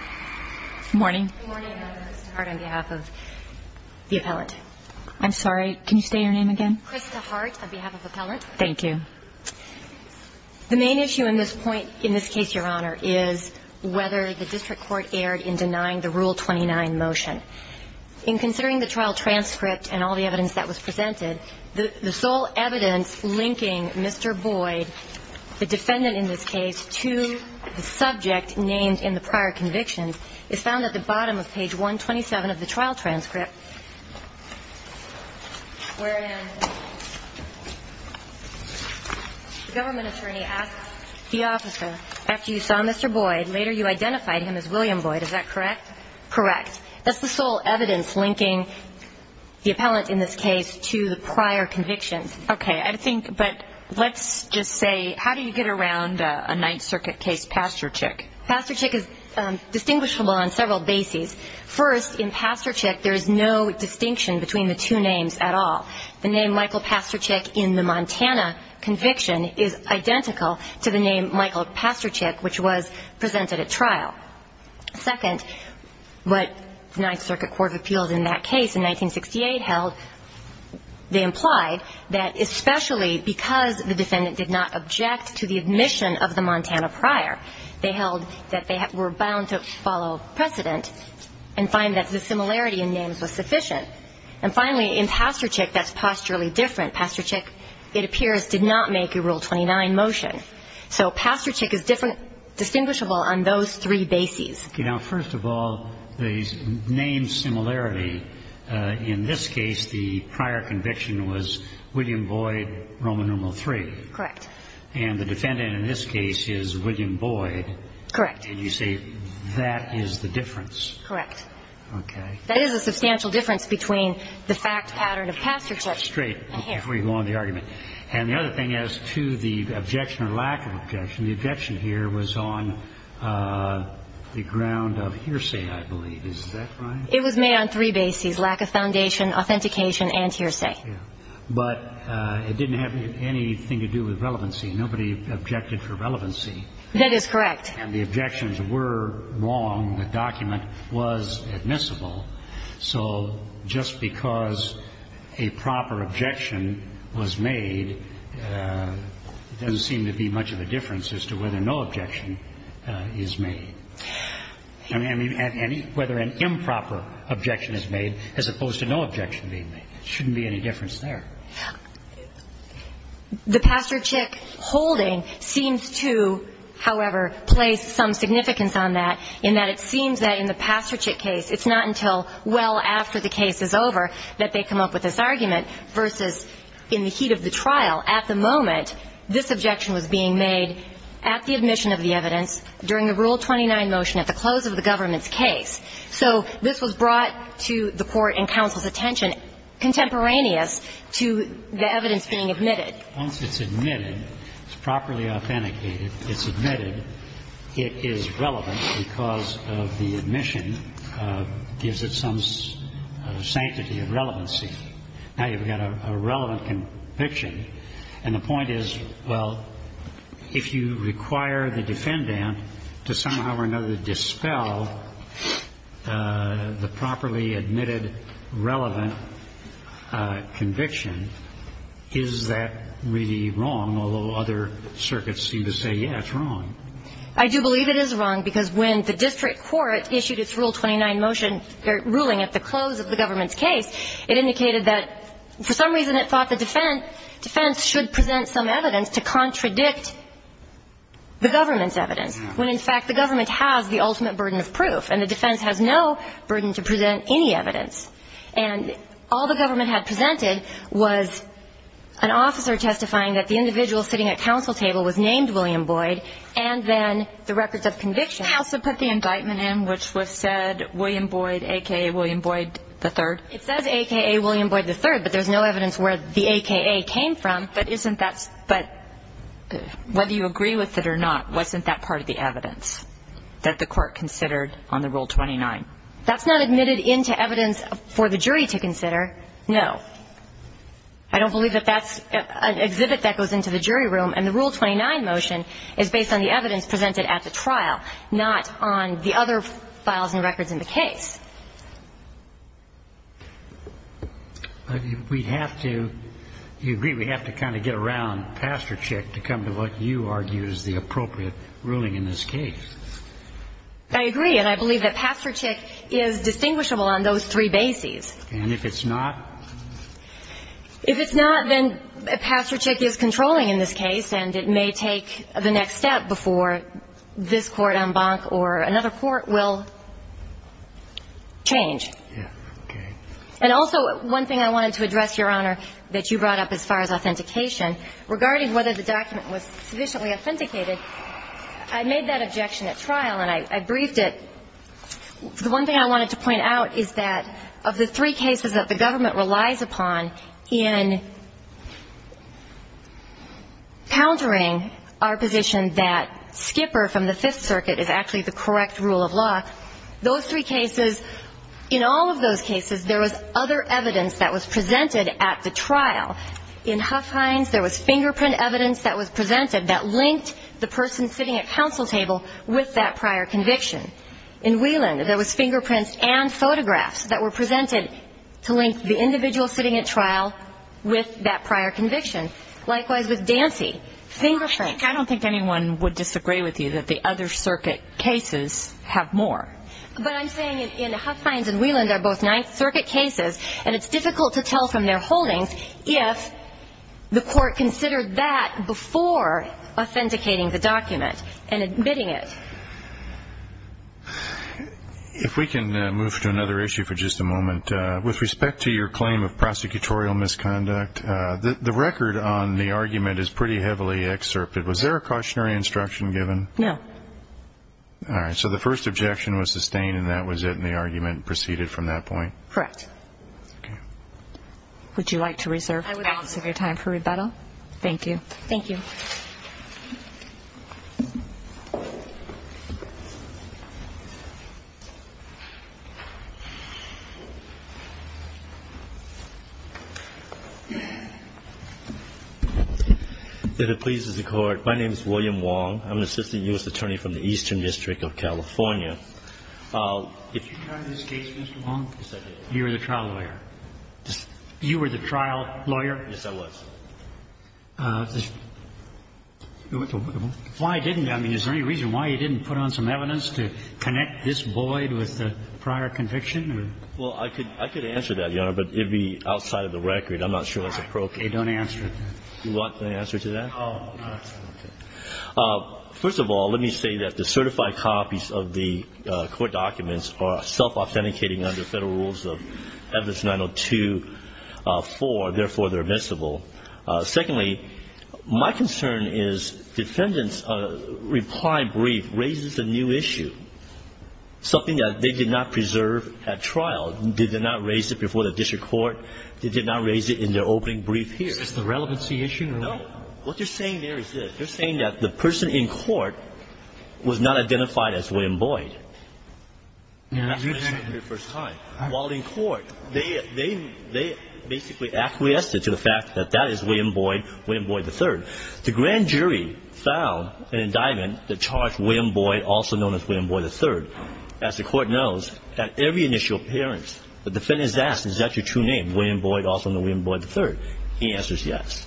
on behalf of the appellant. I'm sorry, can you say your name again? Krista Hart, on behalf of the appellant. Thank you. The main issue in this point, in this case, your honor, is whether the district court erred in denying the Rule 29 motion. In considering the trial transcript and all the evidence that was presented, the sole evidence linking Mr. Boyd, the defendant in this case, to the subject named in the prior convictions, is found at the bottom of page 127 of the trial transcript, wherein the government attorney asks the officer, after you saw Mr. Boyd, later you identified him as William Boyd, is that correct? Correct. That's the sole evidence linking the appellant in this case to the prior convictions. Okay, I think, but let's just say, how do you get around a Ninth Circuit case, Pasterchik? Pasterchik is distinguishable on several bases. First, in Pasterchik, there is no distinction between the two names at all. The name Michael Pasterchik in the Montana conviction is identical to the name Michael Pasterchik, which was presented at trial. Second, what the Ninth Circuit found was that, especially because the defendant did not object to the admission of the Montana prior, they held that they were bound to follow precedent and find that the similarity in names was sufficient. And finally, in Pasterchik, that's posturally different. Pasterchik, it appears, did not make a Rule 29 motion. So Pasterchik is different, distinguishable on those three bases. Okay. Now, first of all, the name similarity, in this case, the prior conviction was William Boyd, Roman numeral 3. Correct. And the defendant in this case is William Boyd. Correct. And you say that is the difference. Correct. Okay. That is a substantial difference between the fact pattern of Pasterchik. Great. Before you go on to the argument. And the other thing as to the objection or lack of objection, the objection here was on the ground of hearsay, I believe. Is that right? It was made on three bases, lack of foundation, authentication and hearsay. But it didn't have anything to do with relevancy. Nobody objected for relevancy. That is correct. And the objections were wrong. The document was admissible. So just because a proper objection was made, doesn't seem to be much of a difference as to whether no objection is made. I mean, whether an improper objection is made as opposed to no objection being made. Shouldn't be any difference there. The Pasterchik holding seems to, however, place some significance on that, in that it seems that in the Pasterchik case, it's not until well after the case is over that they come up with this argument, versus in the heat of the trial. At the moment, this objection was being made at the admission of the evidence during the Rule 29 motion at the close of the government's case. So this was brought to the Court and counsel's attention contemporaneous to the evidence being admitted. Once it's admitted, it's properly authenticated, it's admitted, it is relevant because of the admission gives it some sanctity of relevancy. Now, you've got a relevant conviction, and the point is, well, if you require the defendant to somehow or another dispel the properly admitted relevant conviction, is that really wrong? Although other circuits seem to say, yeah, it's wrong. I do believe it is wrong, because when the district court issued its Rule 29 motion ruling at the close of the government's case, it indicated that for some reason it thought the defense should present some evidence to contradict the government's evidence, when, in fact, the government has the ultimate burden of proof, and the defense has no burden to present any evidence. And all the government had presented was an officer testifying that the individual sitting at counsel table was named William Boyd, and then the records of conviction. Counsel put the indictment in which was said William Boyd, aka William Boyd III. It says aka William Boyd III, but there's no evidence where the aka came from. But isn't that – but whether you agree with it or not, wasn't that part of the evidence that the court considered on the Rule 29? That's not admitted into evidence for the jury to consider, no. I don't believe that that's an exhibit that goes into the jury room. And the Rule 29 motion is based on the evidence presented at the trial, not on the other files and records in the case. But we'd have to – you agree we'd have to kind of get around Pasterchik to come to what you argue is the appropriate ruling in this case. I agree. And I believe that Pasterchik is distinguishable on those three bases. And if it's not? If it's not, then Pasterchik is controlling in this case, and it may take the next step before this court en banc or another court will change. Yeah. Okay. And also, one thing I wanted to address, Your Honor, that you brought up as far as authentication, regarding whether the document was sufficiently authenticated, I made that objection at trial, and I briefed it. The one thing I wanted to point out is that of the three cases that the government relies upon in countering our position that Skipper from the Fifth Circuit is actually the correct rule of law. In all of those cases, there was other evidence that was presented at the trial. In Huff Hines, there was fingerprint evidence that was presented that linked the person sitting at counsel table with that prior conviction. In Whelan, there was fingerprints and photographs that were presented to link the individual sitting at trial with that prior conviction. Likewise with Dancy, fingerprints. I don't think anyone would disagree with you that the other circuit cases have more. But I'm saying in Huff Hines and Whelan, they're both Ninth Circuit cases, and it's difficult to tell from their holdings if the court considered that before authenticating the document and admitting it. If we can move to another issue for just a moment, with respect to your claim of prosecutorial misconduct, the record on the argument is pretty heavily excerpted. Was there a cautionary instruction given? No. All right. So the first objection was sustained, and that was it, and the argument proceeded from that point? Correct. Okay. Would you like to reserve the balance of your time for rebuttal? Thank you. Thank you. Thank you. If it pleases the Court, my name is William Wong. I'm an assistant U.S. attorney from the Eastern District of California. Did you try this case, Mr. Wong? Yes, I did. You were the trial lawyer? Yes. You were the trial lawyer? Yes, I was. Why didn't you? I mean, is there any reason why you didn't put on some evidence to connect this void with the prior conviction? Well, I could answer that, Your Honor, but it would be outside of the record. I'm not sure that's appropriate. Okay. Don't answer it. You want the answer to that? No. Okay. First of all, let me say that the certified copies of the court documents are self-authenticating under Federal Rules of Evidence 902.4, therefore, they're admissible. Secondly, my concern is defendants' reply brief raises a new issue, something that they did not preserve at trial. Did they not raise it before the district court? Did they not raise it in their opening brief here? Is this the relevancy issue? No. What they're saying there is this. They're saying that the person in court was not identified as William Boyd. And that's what they said for the first time. While in court, they basically acquiesced to the fact that that is William Boyd, William Boyd III. The grand jury found an indictment that charged William Boyd, also known as William Boyd III. As the court knows, at every initial appearance, the defendant is asked, is that your true name, William Boyd, also known as William Boyd III? The answer is yes.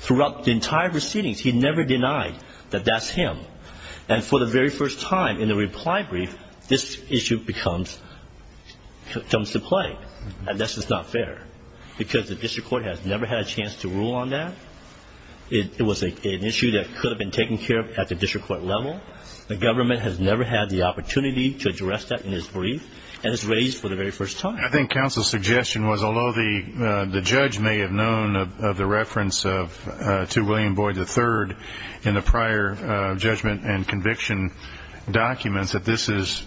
Throughout the entire proceedings, he never denied that that's him. And for the very first time in the reply brief, this issue comes to play. And this is not fair because the district court has never had a chance to rule on that. It was an issue that could have been taken care of at the district court level. The government has never had the opportunity to address that in its brief and it's raised for the very first time. I think counsel's suggestion was, although the judge may have known of the William Boyd III in the prior judgment and conviction documents, that this is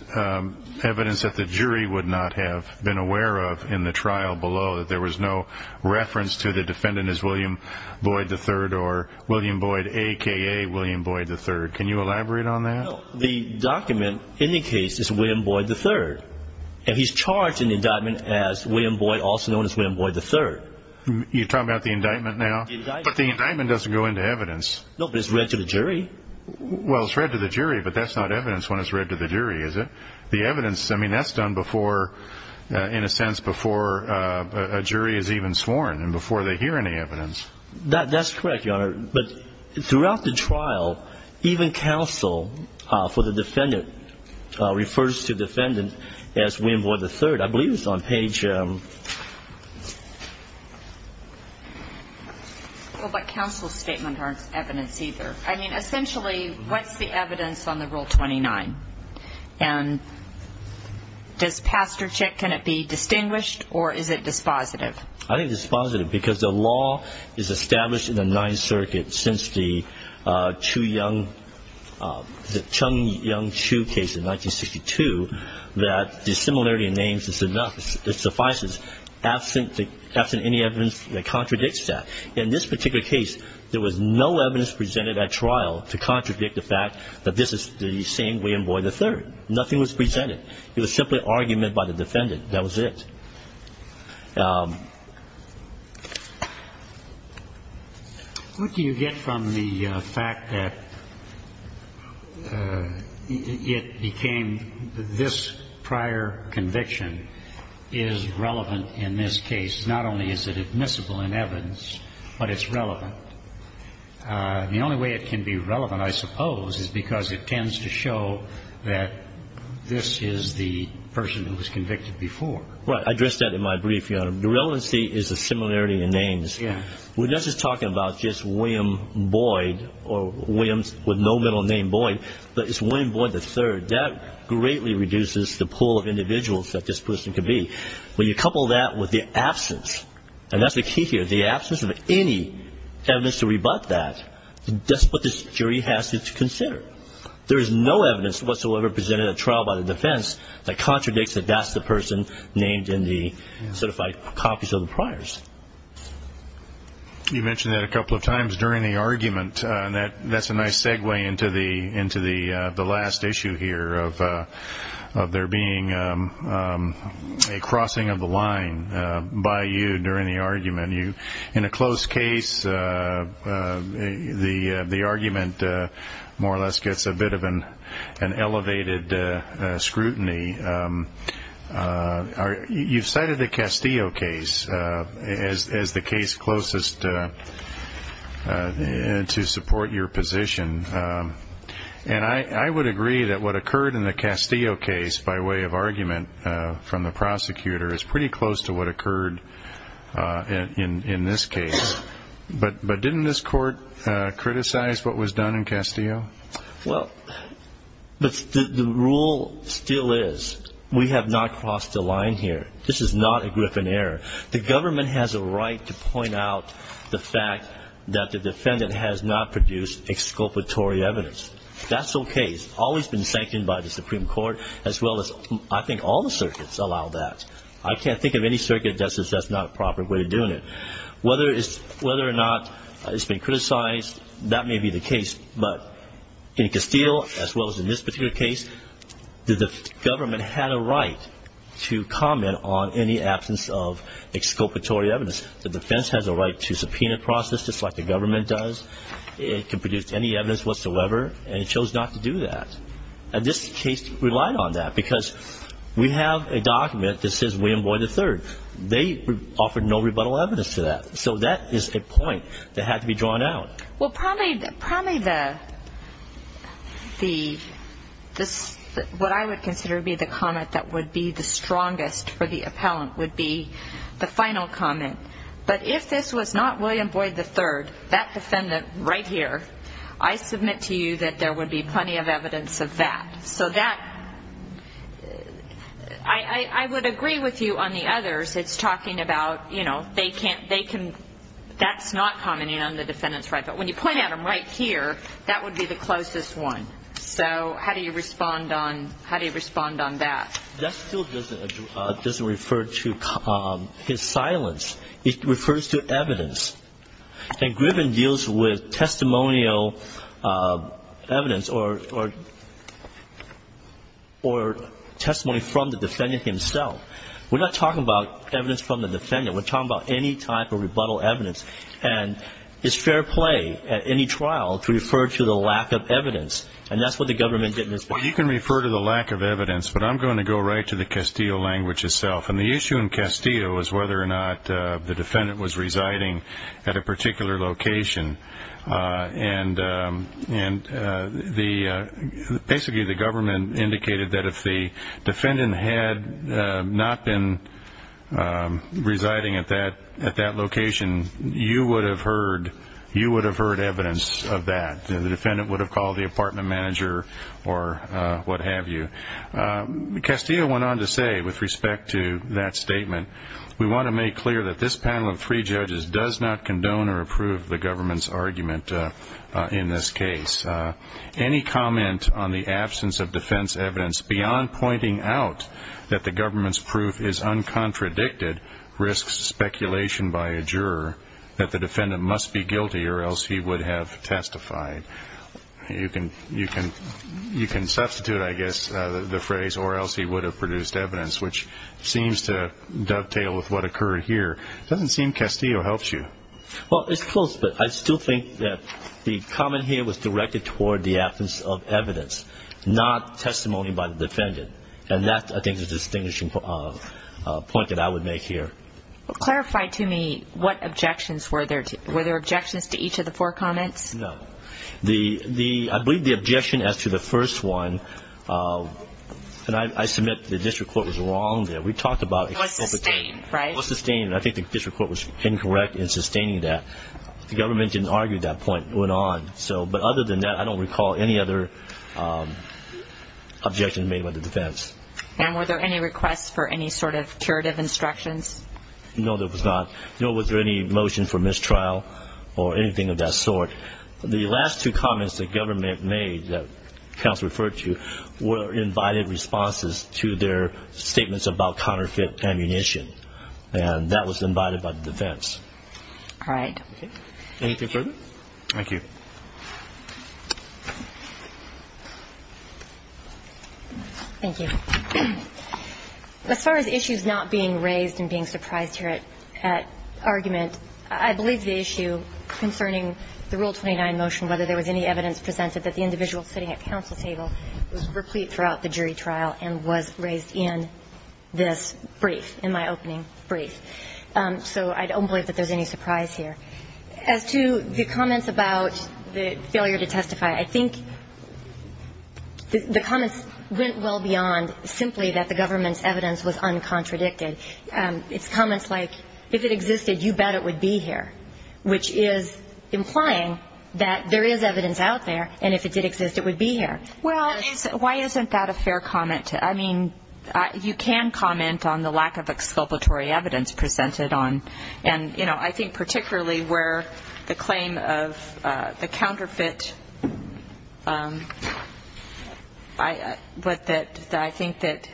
evidence that the jury would not have been aware of in the trial below, that there was no reference to the defendant as William Boyd III or William Boyd, a.k.a. William Boyd III. Can you elaborate on that? No. The document indicates it's William Boyd III and he's charged in the indictment as William Boyd, also known as William Boyd III. You're talking about the indictment now? But the indictment doesn't go into evidence. No, but it's read to the jury. Well, it's read to the jury, but that's not evidence when it's read to the jury, is it? The evidence, I mean, that's done in a sense before a jury is even sworn and before they hear any evidence. That's correct, Your Honor. But throughout the trial, even counsel for the defendant refers to the defendant as William Boyd III. I believe it's on page... Well, but counsel's statement aren't evidence either. I mean, essentially, what's the evidence on the Rule 29? And does Pasterchik, can it be distinguished or is it dispositive? I think it's dispositive because the law is established in the Ninth Circuit since the Chung-Yung Chu case in 1962 that the similarity in names is enough, it suffices, absent any evidence that contradicts that. In this particular case, there was no evidence presented at trial to contradict the fact that this is the same William Boyd III. Nothing was presented. It was simply argument by the defendant. That was it. What do you get from the fact that it became this prior conviction is relevant in this case? Not only is it admissible in evidence, but it's relevant. The only way it can be relevant, I suppose, is because it tends to show that this is the person who was convicted before. Right. I addressed that in my brief, Your Honor. The relevancy is the similarity in names. We're not just talking about just William Boyd or Williams with no middle name Boyd, but it's William Boyd III. That greatly reduces the pool of individuals that this person could be. When you couple that with the absence, and that's the key here, the absence of any evidence to rebut that, that's what this jury has to consider. There is no evidence whatsoever presented at trial by the defense that contradicts that that's the person named in the certified copies of the priors. You mentioned that a couple of times during the argument. That's a nice segue into the last issue here of there being a crossing of the line by you during the argument. In a close case, the argument more or less gets a bit of an elevated scrutiny. You've cited the Castillo case as the case closest to support your position. I would agree that what occurred in the Castillo case by way of argument from the in this case, but didn't this court criticize what was done in Castillo? Well, the rule still is we have not crossed the line here. This is not a Griffin error. The government has a right to point out the fact that the defendant has not produced exculpatory evidence. That's okay. It's always been sanctioned by the Supreme Court as well as I think all the circuits allow that. I can't think of any circuit that says that's not a proper way of doing it. Whether or not it's been criticized, that may be the case. But in Castillo as well as in this particular case, the government had a right to comment on any absence of exculpatory evidence. The defense has a right to subpoena process just like the government does. It can produce any evidence whatsoever, and it chose not to do that. And this case relied on that because we have a document that says William Boyd III. They offered no rebuttal evidence to that. So that is a point that had to be drawn out. Well, probably what I would consider to be the comment that would be the strongest for the appellant would be the final comment. But if this was not William Boyd III, that defendant right here, I submit to you that there would be plenty of evidence of that. So that, I would agree with you on the others. It's talking about, you know, that's not commenting on the defendant's right. But when you point at him right here, that would be the closest one. So how do you respond on that? That still doesn't refer to his silence. It refers to evidence. And Griffin deals with testimonial evidence or testimony from the defendant himself. We're not talking about evidence from the defendant. We're talking about any type of rebuttal evidence. And it's fair play at any trial to refer to the lack of evidence. And that's what the government did in this case. Well, you can refer to the lack of evidence, but I'm going to go right to the Castillo language itself. And the issue in Castillo was whether or not the defendant was residing at a particular location. And basically the government indicated that if the defendant had not been residing at that location, you would have heard evidence of that. The defendant would have called the apartment manager or what have you. Castillo went on to say with respect to that statement, we want to make clear that this panel of three judges does not condone or approve the government's argument in this case. Any comment on the absence of defense evidence beyond pointing out that the government's proof is uncontradicted risks speculation by a juror that the defendant must be guilty or else he would have testified. You can substitute, I guess, the phrase or else he would have produced evidence, which seems to dovetail with what occurred here. It doesn't seem Castillo helps you. Well, it's close, but I still think that the comment here was directed toward the absence of evidence, not testimony by the defendant. And that, I think, is a distinguishing point that I would make here. Clarify to me what objections were there. Were there objections to each of the four comments? No. I believe the objection as to the first one, and I submit the district court was wrong there. We talked about it. It was sustained, right? It was sustained, and I think the district court was incorrect in sustaining that. The government didn't argue that point. It went on. But other than that, I don't recall any other objections made by the defense. And were there any requests for any sort of curative instructions? No, there was not. Or anything of that sort. The last two comments the government made, that counsel referred to, were invited responses to their statements about counterfeit ammunition, and that was invited by the defense. All right. Anything further? Thank you. Thank you. As far as issues not being raised and being surprised here at argument, I believe the issue concerning the Rule 29 motion, whether there was any evidence presented that the individual sitting at counsel's table was replete throughout the jury trial and was raised in this brief, in my opening brief. So I don't believe that there's any surprise here. As to the comments about the failure to testify, I think the comments went well beyond simply that the government's evidence was uncontradicted. It's comments like, if it existed, you bet it would be here, which is implying that there is evidence out there, and if it did exist, it would be here. Well, why isn't that a fair comment? I mean, you can comment on the lack of exculpatory evidence presented on. And, you know, I think particularly where the claim of the counterfeit, but that I think that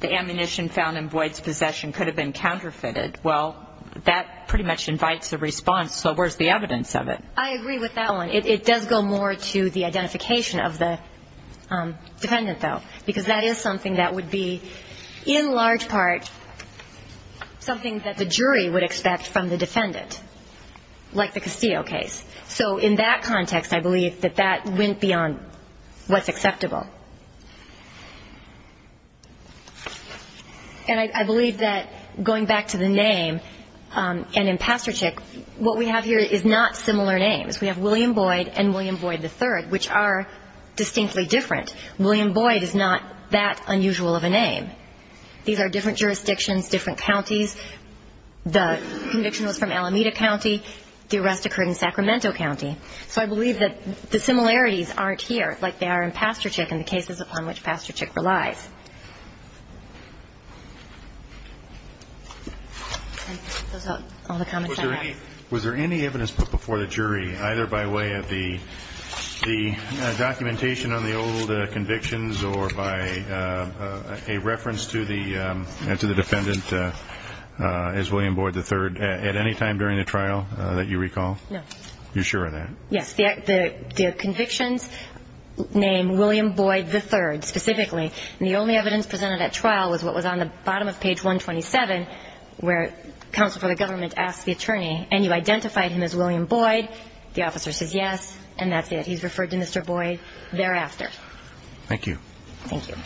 the ammunition found in Boyd's possession could have been counterfeited, well, that pretty much invites a response. So where's the evidence of it? I agree with that one. It does go more to the identification of the defendant, though, because that is something that would be in large part something that the jury would expect from the defendant, like the Castillo case. So in that context, I believe that that went beyond what's acceptable. And I believe that going back to the name, and in Pasterchik, what we have here is not similar names. We have William Boyd and William Boyd III, which are distinctly different. William Boyd is not that unusual of a name. These are different jurisdictions, different counties. The conviction was from Alameda County. The arrest occurred in Sacramento County. So I believe that the similarities aren't here, like they are in Pasterchik and the cases upon which Pasterchik relies. Was there any evidence put before the jury, either by way of the documentation on the old convictions or by a reference to the defendant as William Boyd III, at any time during the trial that you recall? No. You're sure of that? Yes. The convictions name William Boyd III, specifically. And the only evidence presented at trial was what was on the bottom of page 127, where counsel for the government asked the attorney, and you identified him as William Boyd. The officer says yes, and that's it. He's referred to Mr. Boyd thereafter. Thank you. Thank you.